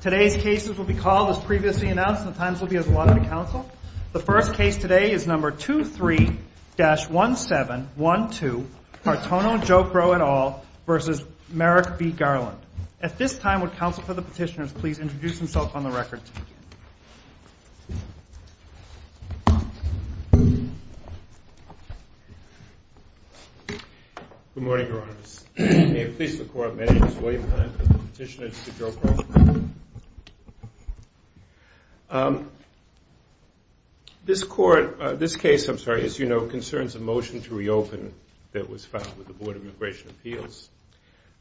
Today's cases will be called as previously announced and the times will be as allotted to counsel. The first case today is number 23-1712 Martono-Jokro et al. v. Merrick v. Garland At this time, would counsel for the petitioners please introduce themselves on the record? Good morning, Your Honor. May it please the Court, my name is William Hunt and I'm the petitioner to Mr. Jokro. This case, as you know, concerns a motion to reopen that was filed with the Board of Immigration Appeals.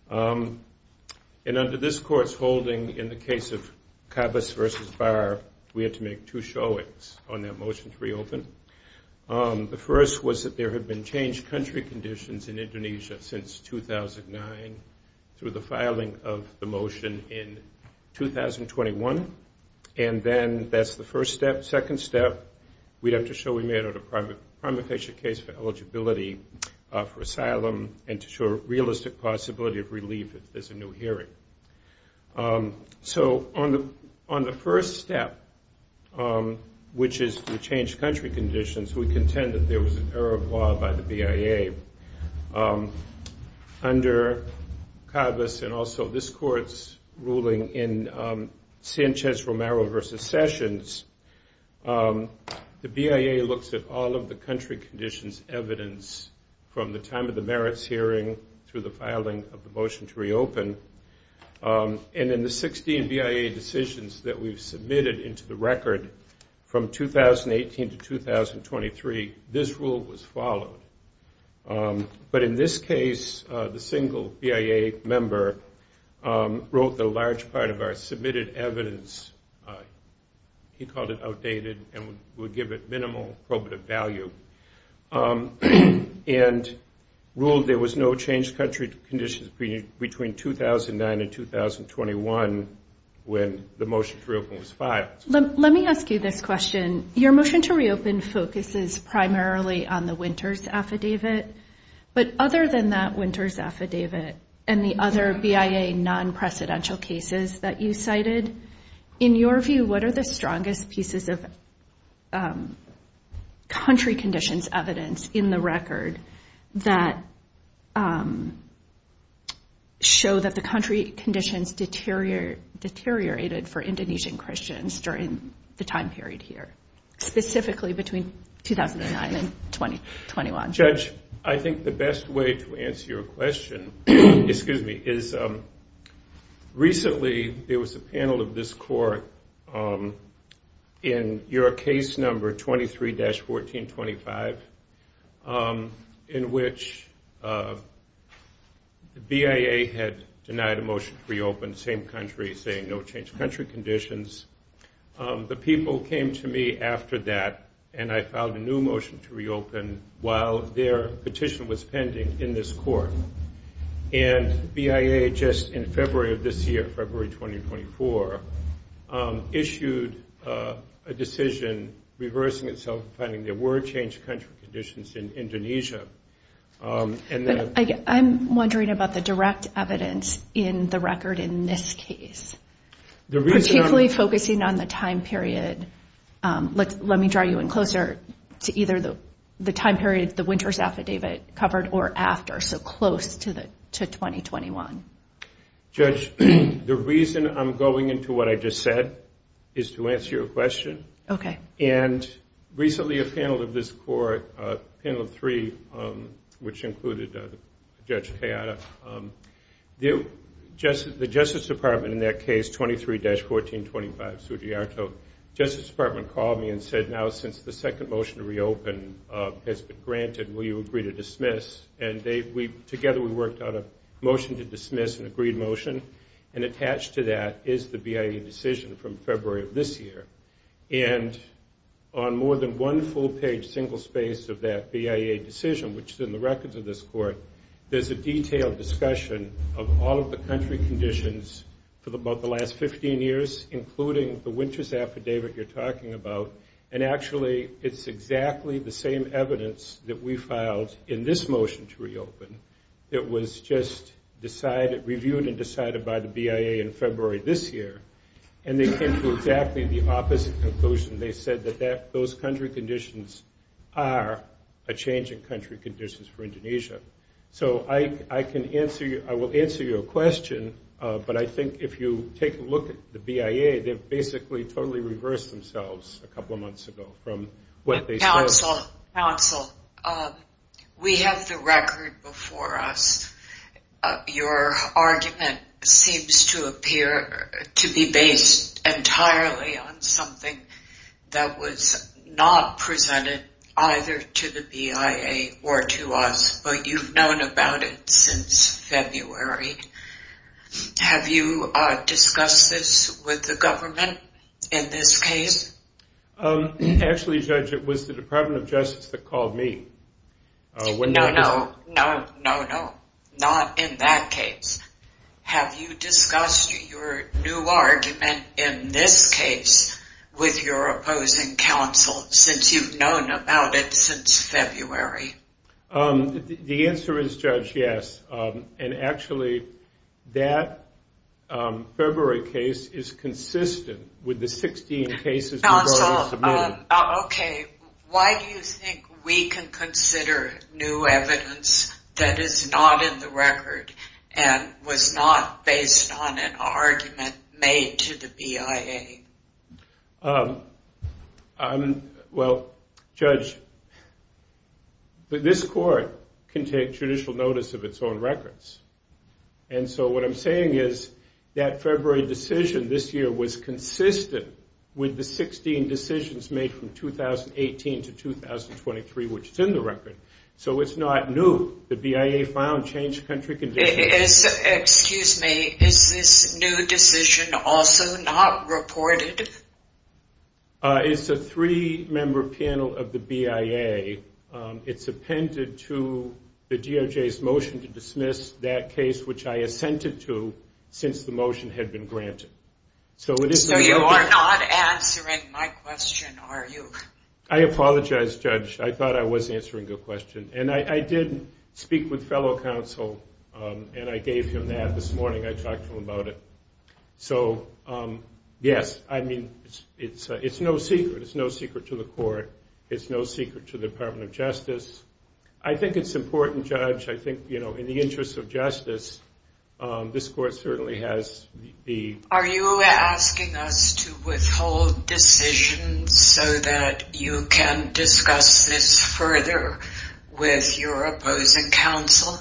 And under this Court's holding in the case of Cabas v. Barr, we had to make two showings on that motion to reopen. The first was that there had been changed country conditions in Indonesia since 2009 through the filing of the motion in 2021. And then that's the first step. Second step, we'd have to show we made a prima facie case for eligibility for asylum and to show realistic possibility of relief if there's a new hearing. So on the first step, which is to change country conditions, we contend that there was an error of law by the BIA. Under Cabas and also this Court's ruling in Sanchez-Romero v. Sessions, the BIA looks at all of the country conditions evidence from the time of the merits hearing through the filing of the motion to reopen. And in the 16 BIA decisions that we've submitted into the record from 2018 to 2023, this rule was followed. But in this case, the single BIA member wrote the large part of our submitted evidence. He called it outdated and would give it minimal probative value. And ruled there was no changed country conditions between 2009 and 2021 when the motion to reopen was filed. Let me ask you this question. Your motion to reopen focuses primarily on the Winters Affidavit, but other than that Winters Affidavit and the other BIA non-precedential cases that you cited, in your view, what are the strongest pieces of country conditions evidence in the record that show that the country conditions deteriorated for Indonesian Christians during the time period here, specifically between 2009 and 2021? Judge, I think the best way to answer your question is recently there was a panel of this court in your case number 23-1425 the BIA had denied a motion to reopen the same country saying no changed country conditions. The people came to me after that and I filed a new motion to reopen while their petition was pending in this court. And BIA just in February of this year, February 2024, issued a decision reversing itself, finding there were changed country conditions in Indonesia. I'm wondering about the direct evidence in the record in this case. Particularly focusing on the time period, let me draw you in closer to either the time period the Winters Affidavit covered or after, so close to 2021. Judge, the reason I'm going into what I just said is to answer your question. And recently a panel of this court, panel three, which included Judge Hayata, the Justice Department in their case 23-1425 Justice Department called me and said now since the second motion to reopen has been granted, will you agree to dismiss? And together we worked on a motion to dismiss, an agreed motion, and attached to that is the BIA decision from February of this year. And on more than one full page single space of that BIA decision, which is in the records of this court, there's a detailed discussion of all of the country conditions for about the last 15 years including the Winters Affidavit you're talking about. And actually it's exactly the same evidence that we filed in this motion to reopen that was just decided, reviewed and decided by the BIA in February this year. And they came to exactly the opposite conclusion. They said that those country conditions are a change in country conditions for Indonesia. So I can answer, I will answer your question, but I think if you take a look at the BIA, they've basically totally reversed themselves a couple of months ago from what they said. Counsel, we have the record before us. Your argument seems to appear to be based entirely on something that was not presented either to the BIA or to us, but you've known about it since February. Have you discussed this with the government in this case? Actually Judge, it was the Department of Justice that called me. No, no. Not in that case. Have you discussed your new argument in this case with your opposing counsel since you've known about it since February? The answer is, Judge, yes. And actually that February case is consistent with the 16 cases we've already submitted. Counsel, okay, why do you think we can consider new evidence that is not in the record and was not based on an argument made to the BIA? Well, Judge, this court can take judicial notice of its own records, and so what I'm saying is that February decision this year was consistent with the 16 decisions made from 2018 to 2023, which is in the record, so it's not new. The BIA found changed country conditions. Excuse me, is this new decision also not reported? It's a three-member panel of the BIA. It's appended to the DOJ's motion to dismiss that case, which I assented to since the motion had been granted. So you are not answering my question, are you? I apologize, Judge. I thought I was answering your question. And I did speak with fellow counsel, and I gave my opinion, and I'm very mindful about it. So, yes, I mean, it's no secret. It's no secret to the court. It's no secret to the Department of Justice. I think it's important, Judge, I think, you know, in the interest of justice, this court certainly has the... Are you asking us to withhold decisions so that you can discuss this further with your opposing counsel?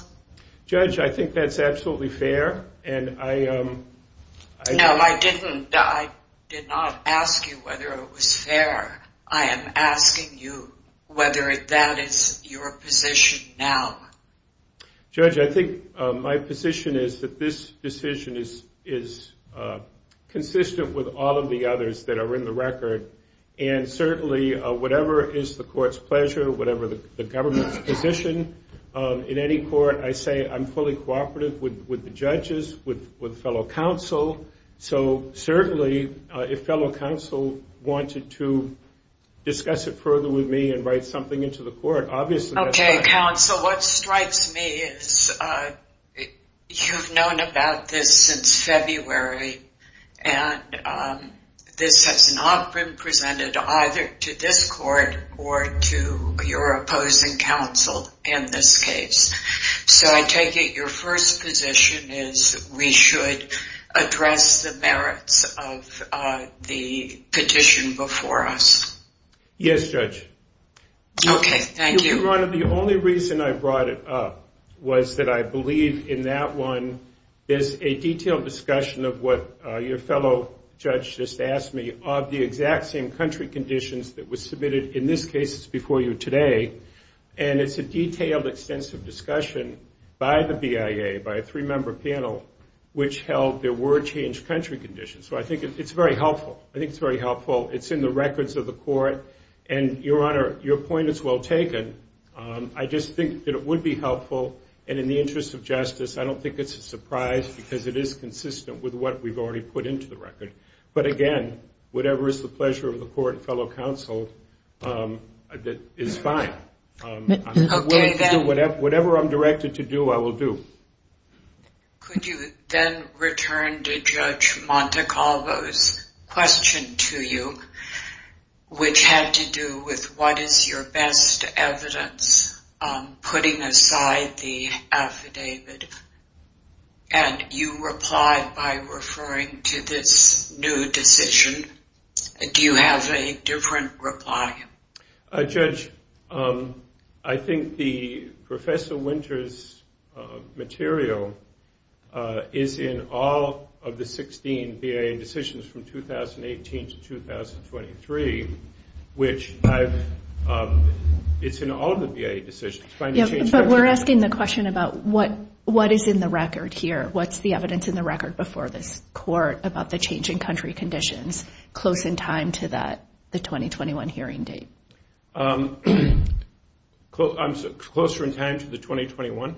Judge, I think that's absolutely fair, and I... No, I didn't. I did not ask you whether it was fair. I am asking you whether that is your position now. Judge, I think my position is that this decision is consistent with all of the others that are in the record, and certainly whatever is the court's pleasure, whatever the in any court, I say I'm fully cooperative with the judges, with fellow counsel, so certainly if fellow counsel wanted to discuss it further with me and write something into the court, obviously that's fine. Okay, counsel, what strikes me is you've known about this since February, and this has not been presented either to this court or to your opposing counsel in this case, so I take it your first position is we should address the merits of the petition before us. Yes, Judge. Okay, thank you. Your Honor, the only reason I brought it up was that I believe in that one there's a detailed discussion of what your fellow judge just asked me of the exact same country conditions that were submitted in this case before you today, and it's a detailed, extensive discussion by the BIA, by a three-member panel, which held there were changed country conditions, so I think it's very helpful. It's in the records of the court, and Your Honor, your point is well taken. I just think that it would be helpful, and in the interest of justice, I don't think it's a surprise because it is consistent with what we've already put into the record, but again, whatever is the pleasure of the court and fellow counsel is fine. Whatever I'm directed to do, I will do. Could you then return to Judge Montecalvo's question to you, which had to do with what is your best evidence putting aside the affidavit, and you replied by referring to this new decision. Do you have a different reply? Judge, I think the Professor Winter's material is in all of the 16 BIA decisions from 2018 to 2023, which I've it's in all the BIA decisions. What is in the record here? What's the evidence in the record before this court about the change in country conditions close in time to the 2021 hearing date? Closer in time to the 2021?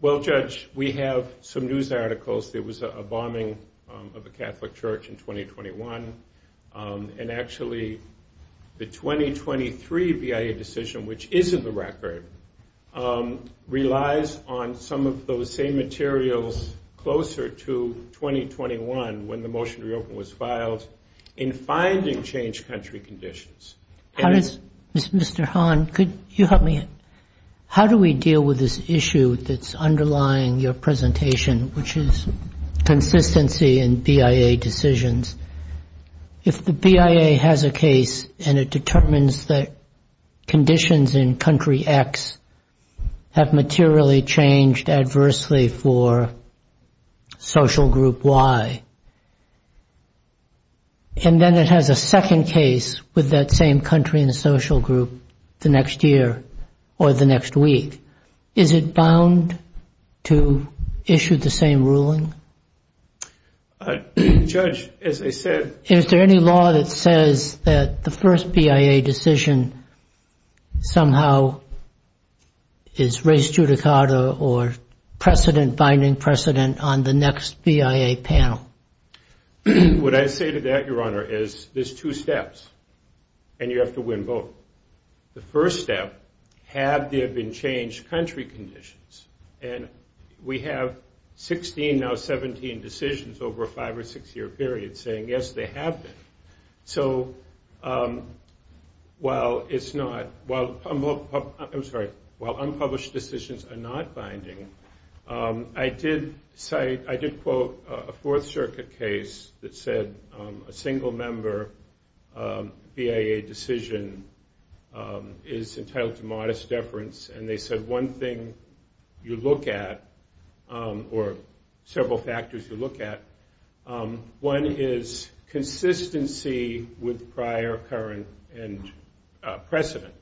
Well, Judge, we have some news articles. There was a bombing of a Catholic church in 2021, and actually the 2023 BIA decision, which is in the record, relies on some of those same materials closer to 2021 when the motion to reopen was filed in finding changed country conditions. Mr. Hahn, could you help me? How do we deal with this issue that's underlying your presentation, which is consistency in BIA decisions? If the BIA has a case and it determines that conditions in country X have materially changed adversely for social group Y, and then it has a second case with that same country in the social group the next year or the next week, is it bound to issue the same ruling? Judge, as I said... Is there any law that says that the first BIA decision somehow is res judicata or precedent binding precedent on the next BIA panel? What I say to that, Your Honor, is there's two steps, and you have to win both. The first step, have there been changed country conditions? And we have 16, now 17, decisions over a five or six year period saying yes, they have been. So while unpublished decisions are not binding, I did cite, I did quote a Fourth Circuit case that said a single member BIA decision is entitled to modest deference, and they said one thing you look at or several factors you look at, one is consistency with prior, current, and precedent.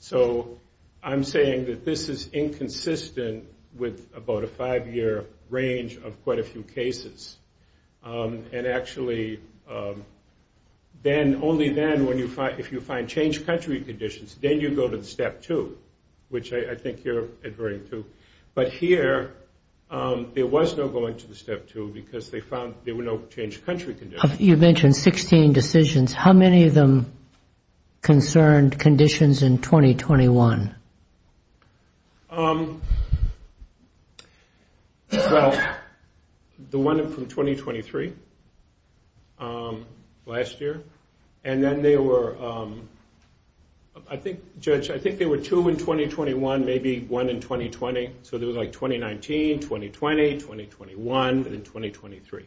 So I'm saying that this is inconsistent with about a five year range of quite a few cases. And actually then, only then, if you find changed country conditions, then you go to the step two, which I think you're adhering to. But here, there was no going to the step two because they found there were no changed country conditions. You mentioned 16 decisions. How many of them concerned conditions in 2021? Well, the one from 2023 last year, and then there were I think, Judge, I think there were two in 2021, maybe one in 2020. So there was like 2019, 2020, 2021, and then 2023.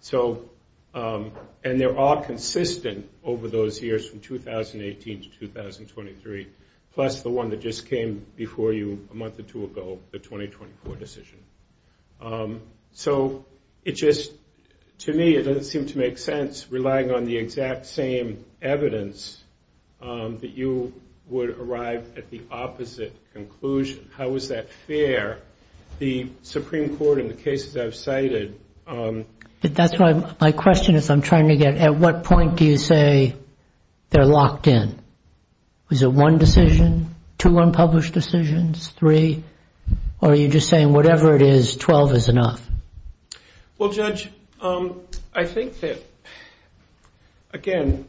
So, and they're all consistent over those years from 2018 to 2023. Plus the one that just came before you a month or two ago, the 2024 decision. So, it just to me, it doesn't seem to make sense relying on the exact same evidence that you would arrive at the opposite conclusion. How is that fair? The Supreme Court in the cases I've cited... But that's why my question is I'm trying to get at what point do you say they're locked in? Was it one decision? Two unpublished decisions? Three? Or are you just saying whatever it is, 12 is enough? Well, Judge, I think that again,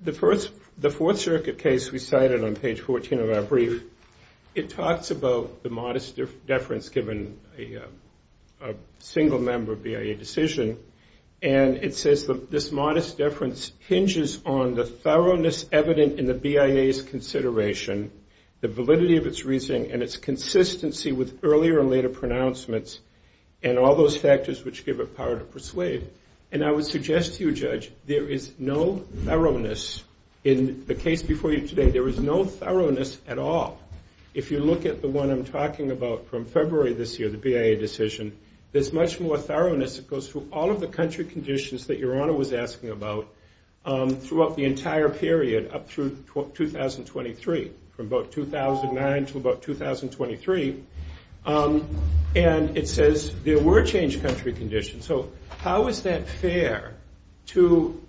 the Fourth Circuit case we cited on page 14 of our brief, it talks about the modest deference given a single member BIA decision. And it says this modest deference hinges on the thoroughness evident in the BIA's consideration, the validity of its reasoning, and its consistency with earlier and later pronouncements, and all those factors which give it power to persuade. And I would suggest to you, Judge, there is no thoroughness in the case before you today. There is no thoroughness at all. If you look at the one I'm talking about from February this year, the BIA decision, there's much more thoroughness that goes through all of the country conditions that Your Honor was asking about throughout the entire period up through 2023, from about 2009 to about 2023. And it says there were changed country conditions. So how is that fair to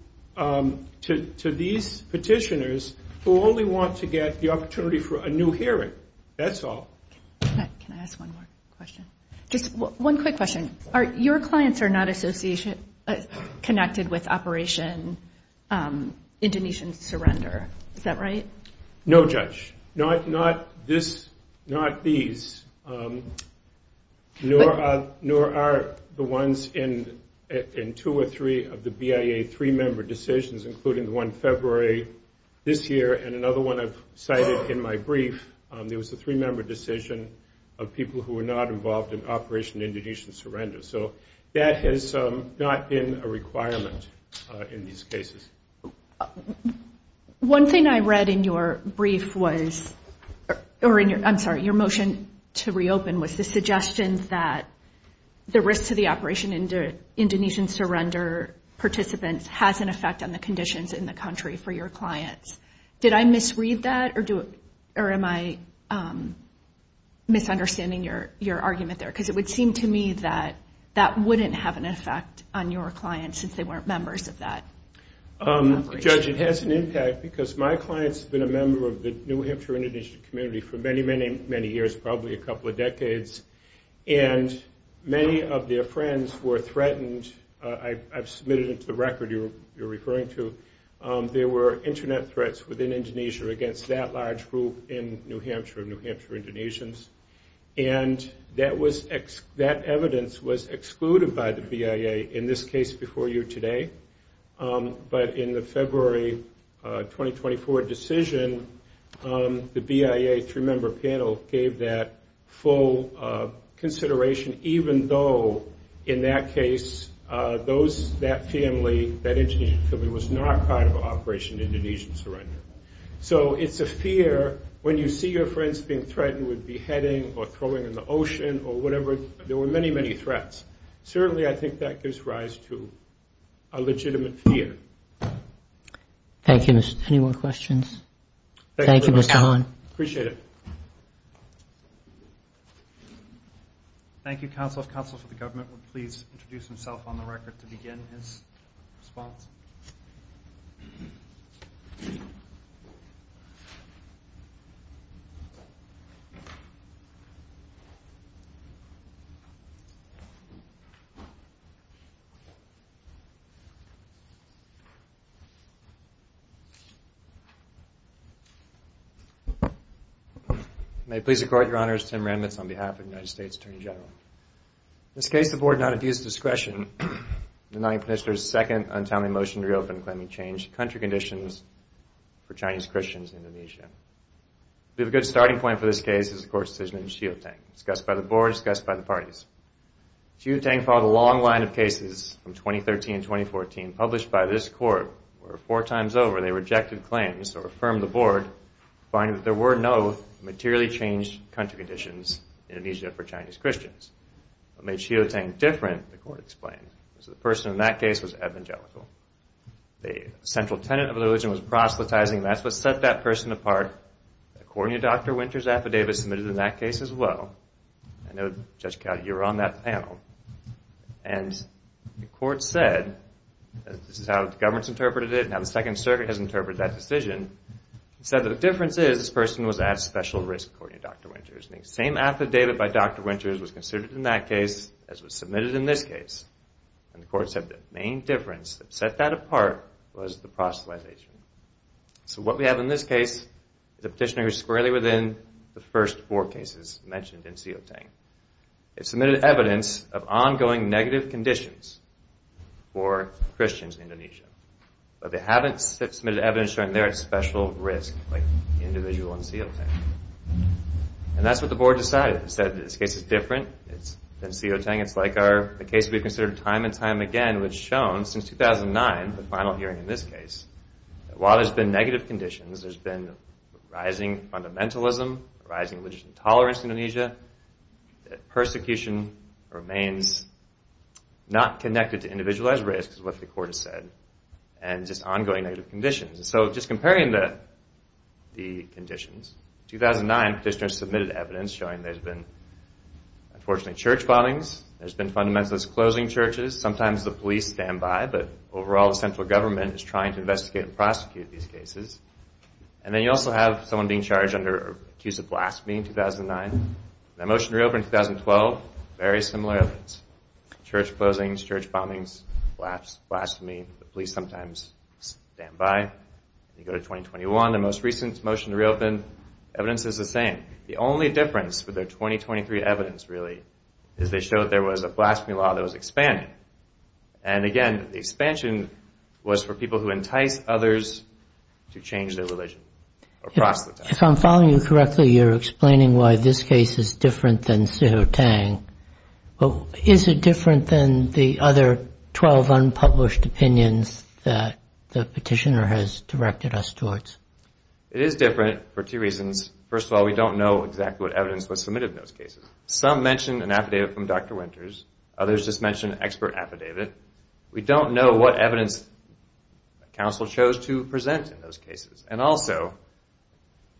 these petitioners who only want to get the opportunity for a new hearing? That's all. Can I ask one more question? Just one quick question. Your clients are not associated, connected with Operation Indonesian Surrender. Is that right? No, Judge. Not these. Nor are the ones in two or three of the BIA three-member decisions, including the one February this year, and another one I've cited in my decision of people who were not involved in Operation Indonesian Surrender. So that has not been a requirement in these cases. One thing I read in your brief was, or I'm sorry, your motion to reopen was the suggestion that the risk to the Operation Indonesian Surrender participants has an effect on the conditions in the country for your clients. Did I misread that? Or am I misunderstanding your argument there? Because it would seem to me that that wouldn't have an effect on your clients since they weren't members of that operation. Judge, it has an impact because my clients have been a member of the New Hampshire Indonesian community for many, many, many years, probably a couple of decades. And many of their friends were threatened. I've submitted it to the record you're referring to. There were a large group in New Hampshire, New Hampshire Indonesians. And that evidence was excluded by the BIA in this case before you today. But in the February 2024 decision, the BIA three-member panel gave that full consideration, even though in that case that family, that Indonesian family, was not part of Operation Indonesian Surrender. So it's a fear when you see your friends being threatened with beheading or throwing in the ocean or whatever, there were many, many threats. Certainly I think that gives rise to a legitimate fear. Thank you. Any more questions? Thank you, Mr. Hahn. Appreciate it. Thank you, counsel. If counsel for the government would please introduce himself on the record to begin his response................ May it please the Court, your Honor, it's Tim Ramitz on behalf of the United States Attorney General. In this case, the Board not adduce discretion in denying pensioners a second untimely motion to reopen claiming changed country conditions for Chinese Christians in Indonesia. We have a good starting point for this case is the Court's decision on Xiuteng, discussed by the Board, discussed by the parties. Xiuteng followed a long line of cases from 2013 and 2014 published by this Court, where four times over they rejected claims or affirmed the Board finding that there were no materially changed country conditions in Indonesia for Chinese Christians. What made Xiuteng different, the Court explained, was that the person in that case was evangelical. The central tenet of the religion was proselytizing and that's what set that person apart. According to Dr. Winters' affidavit submitted in that case as well, I know, Judge Cowdy, you were on that panel, and the Court said, this is how the government's interpreted it and how the Second Circuit has interpreted that decision, said that the difference is this person was at special risk, according to Dr. Winters. The same affidavit by Dr. Winters was considered in that case as was submitted in this case, and the Court said the main difference that set that apart was the proselytization. So what we have in this case is a petitioner who's squarely within the first four cases mentioned in Xiuteng. They've submitted evidence of ongoing negative conditions for Christians in Indonesia, but they haven't submitted evidence showing they're at special risk, like the individual in Xiuteng. And that's what the Board decided. They said that this case is different than Xiuteng. It's like the case we've considered time and time again, which has shown since 2009, the final hearing in this case, that while there's been negative conditions, there's been rising fundamentalism, rising religious intolerance in Indonesia, that persecution remains not connected to individualized risk, as what the Court has said, and just ongoing negative conditions. So just comparing the conditions. In 2009, petitioners submitted evidence showing there's been unfortunately church bombings, there's been fundamentalist closing churches, sometimes the police stand by, but overall the central government is trying to investigate and prosecute these cases. And then you also have someone being charged under an accused of blasphemy in 2009. That motion reopened in 2012, very similar events. Church closings, church bombings, blasphemy, the police sometimes stand by. You go to 2021, the most recent motion to reopen, evidence is the same. The only difference with their 2023 evidence, really, is they showed there was a blasphemy law that was expanding. And again, the expansion was for people who entice others to change their religion or proselytize. If I'm following you correctly, you're explaining why this case is different than Xiuteng. Is it different than the other 12 unpublished opinions that the petitioner has directed us towards? It is different for two reasons. First of all, we don't know exactly what evidence was submitted in those cases. Some mentioned an affidavit from Dr. Winters, others just mentioned an expert affidavit. We don't know what evidence counsel chose to present in those cases. And also,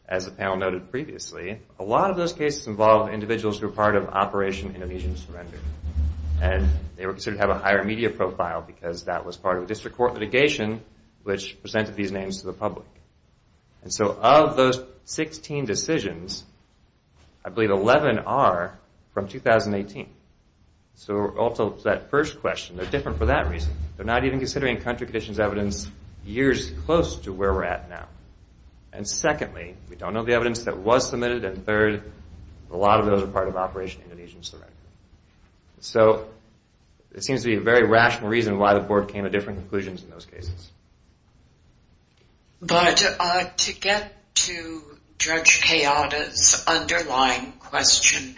as the panel noted previously, a lot of those cases involved individuals who were part of Operation Indonesian Surrender. And they were considered to have a higher media profile because that was part of a district court litigation which presented these names to the public. And so, of those 16 decisions, I believe 11 are from 2018. So, also, to that first question, they're different for that reason. They're not even considering country conditions evidence years close to where we're at now. And secondly, we don't know the evidence that was submitted, and third, a lot of those are part of Operation Indonesian Surrender. So, it seems to be a very rational reason why the board came to different conclusions in those cases. But, to get to Judge Kayada's underlying question,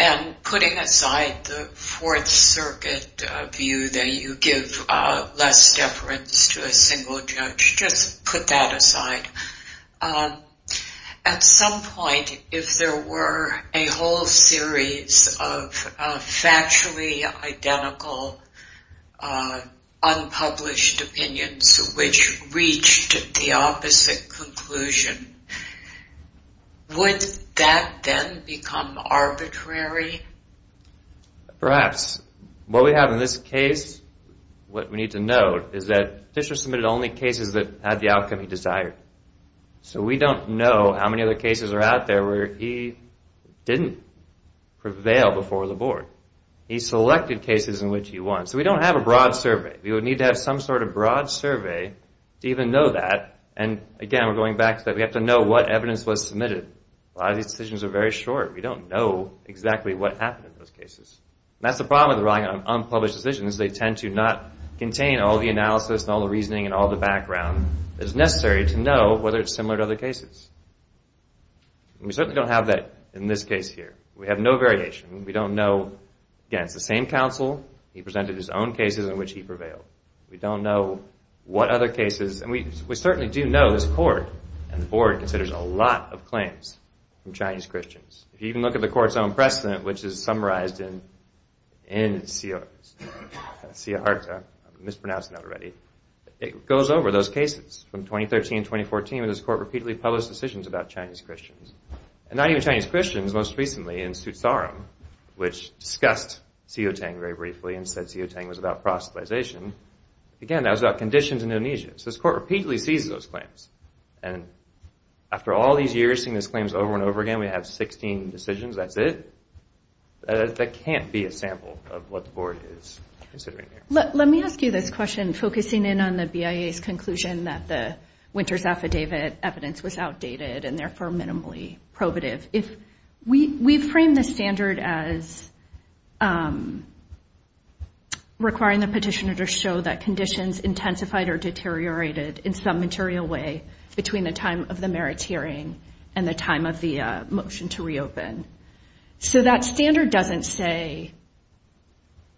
and putting aside the Fourth Circuit view that you give less deference to a single judge, just put that aside. At some point, if there were a whole series of factually identical unpublished opinions which reached the opposite conclusion, would that then become arbitrary? Perhaps. What we have in this case, what we need to know, is that Fisher submitted only cases that had the outcome he desired. So, we don't know how many other cases are out there where he didn't prevail before the board. He selected cases in which he won. So, we don't have a broad survey. We would need to have some sort of broad survey to even know that. And, again, we're going back to that. We have to know what evidence was submitted. A lot of these decisions are very short. We don't know exactly what happened in those cases. And that's the problem with relying on unpublished decisions. They tend to not contain all the analysis and all the reasoning and all the data. We don't know whether it's similar to other cases. We certainly don't have that in this case here. We have no variation. We don't know, again, it's the same counsel. He presented his own cases in which he prevailed. We don't know what other cases. And we certainly do know this court and the board considers a lot of claims from Chinese Christians. If you even look at the court's own precedent, which is summarized in Ciarta, I'm mispronouncing that already, it goes over those cases from 2013 and 2014 when this court repeatedly published decisions about Chinese Christians. And not even Chinese Christians, most recently in Sutsaram, which discussed Xiutang very briefly and said Xiutang was about proselytization. Again, that was about conditions in Indonesia. So this court repeatedly sees those claims. And after all these years seeing those claims over and over again, we have 16 decisions. That's it. That can't be a sample of what the board is considering here. Let me ask you this question, focusing in on the BIA's conclusion that the Winters Affidavit evidence was outdated and therefore minimally probative. We frame this standard as requiring the petitioner to show that conditions intensified or deteriorated in some material way between the time of the merits hearing and the time of the motion to reopen. So that standard doesn't say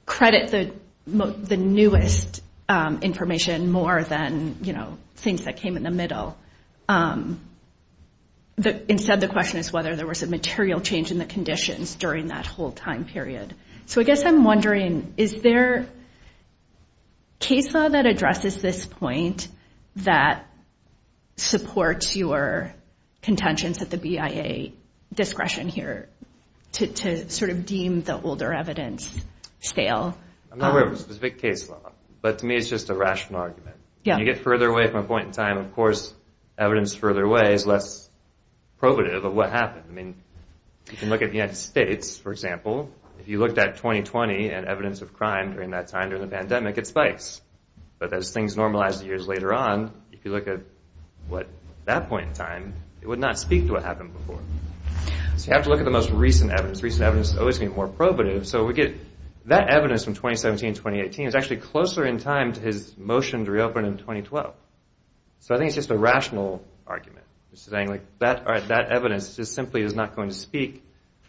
credit the newest information more than things that came in the middle. Instead the question is whether there was a material change in the conditions during that whole time period. So I guess I'm wondering is there case law that addresses this point that supports your contentions at the BIA discretion here to sort of deem the older evidence scale? I'm not aware of a specific case law, but to me it's just a rational argument. When you get further away from a point in time, of course, evidence further away is less probative of what happened. I mean, if you look at the United States for example, if you looked at 2020 and evidence of crime during that time during the pandemic, it spikes. But as things normalized years later on, if you look at that point in time, it would not speak to what happened before. So you have to look at the most recent evidence. Recent evidence is always going to be more probative. So we get that evidence from 2017 and 2018 is actually closer in time to his motion to reopen in 2012. So I think it's just a rational argument. That evidence just simply is not going to speak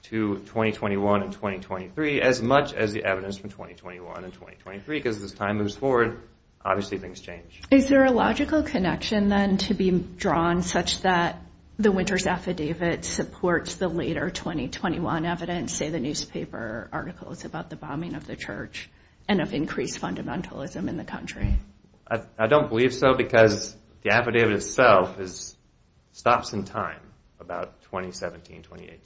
to 2021 and 2023 as much as the evidence from 2021 and 2023 because as time moves forward, obviously things change. Is there a logical connection then to be drawn such that the Winter's Affidavit supports the later 2021 evidence, say the newspaper articles about the bombing of the church and of increased fundamentalism in the country? I don't believe so because the affidavit itself stops in time about 2017, 2018.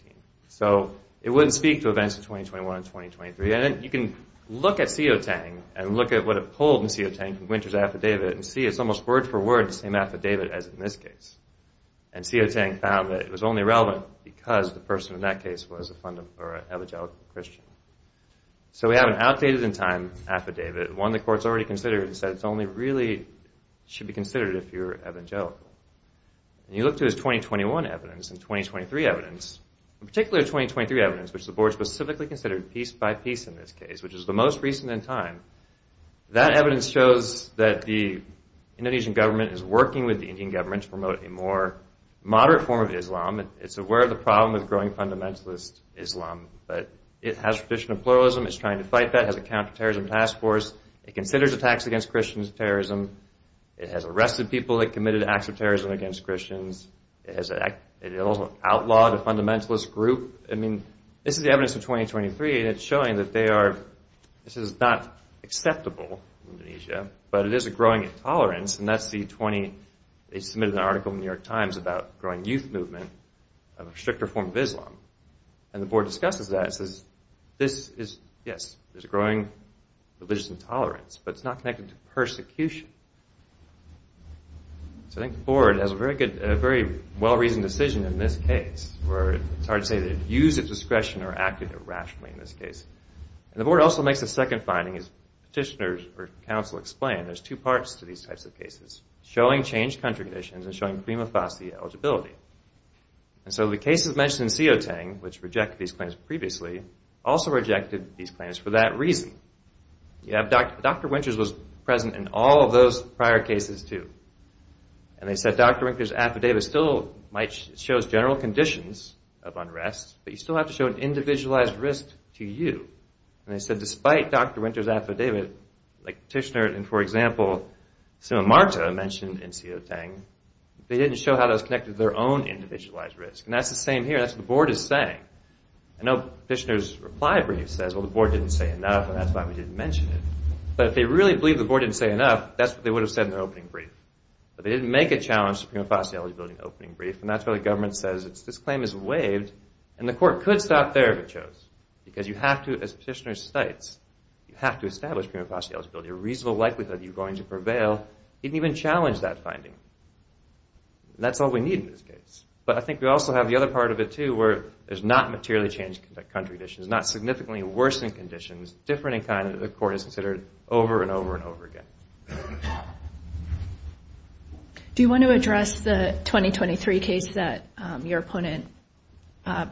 So it wouldn't speak to events of 2021 and 2023. And you can look at COTANG and look at what it pulled in COTANG from Winter's Affidavit and see it's almost word for word the same affidavit as in this case. And COTANG found that it was only relevant because the person in that case was an evangelical Christian. So we have an outdated in time affidavit, one the court's already considered and said it only really should be considered if you're evangelical. And you look to his 2021 evidence and 2023 evidence in particular 2023 evidence, which the board specifically considered piece by piece in this case, which is the most recent in time, that evidence shows that the Indonesian government is working with the Indian government to promote a more moderate form of Islam. It's aware of the problem with growing fundamentalist Islam, but it has traditional pluralism. It's trying to fight that. It has a counter-terrorism task force. It considers attacks against Christians as terrorism. It has arrested people that committed acts of terrorism against Christians. It outlawed a fundamentalist group. I mean, this is the evidence of 2023 and it's showing that they are, this is not acceptable in Indonesia, but it is a growing intolerance and that's the 20, they submitted an article in the New York Times about growing youth movement of a stricter form of Islam. And the board discusses that and says this is yes, there's a growing religious intolerance, but it's not connected to persecution. So I think the board has a very good, very well-reasoned decision in this case where it's hard to say that it used its discretion or acted irrationally in this case. And the board also makes a second finding, as petitioners or counsel explain, there's two parts to these types of cases. Showing changed country conditions and showing prima facie eligibility. And so the cases mentioned in Sioteng, which rejected these claims previously, also rejected these claims for that reason. Dr. Winters was present in all of those prior cases too. And they said Dr. Winters' affidavit still might, it shows general conditions of unrest, but you still have to show an individualized risk to you. And they said despite Dr. Winters' affidavit, like Petitioner and for example Sima Marta mentioned in Sioteng, they didn't show how those connected to their own individualized risk. And that's the same here. That's what the board is saying. I know Petitioner's reply brief says, well the board didn't say enough and that's why we didn't mention it. But if they really believed the board didn't say enough, that's what they would have said in their opening brief. But they didn't make a challenge to prima facie eligibility in the opening brief. And that's why the government says this claim is waived and the because you have to, as Petitioner states, you have to establish prima facie eligibility a reasonable likelihood you're going to prevail. He didn't even challenge that finding. And that's all we need in this case. But I think we also have the other part of it too where there's not materially changed country conditions, not significantly worsened conditions, different in kind that the court has considered over and over and over again. Do you want to address the 2023 case that your opponent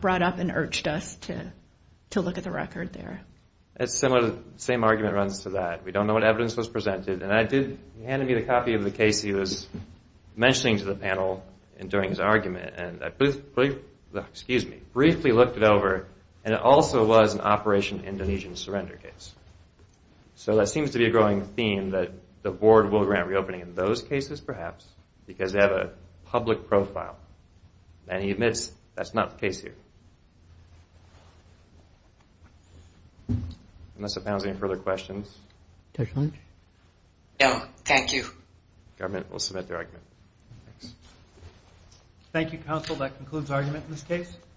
brought up and urged us to look at the record there? The same argument runs to that. We don't know what evidence was presented. He handed me the copy of the case he was mentioning to the panel during his argument and I briefly looked it over and it also was an Operation Indonesian Surrender case. So that seems to be a growing theme that the board will grant reopening in those cases perhaps because they have a public profile. And he admits that's not the case here. Unless the panel has any further questions. No, thank you. Thank you, counsel. That concludes argument in this case.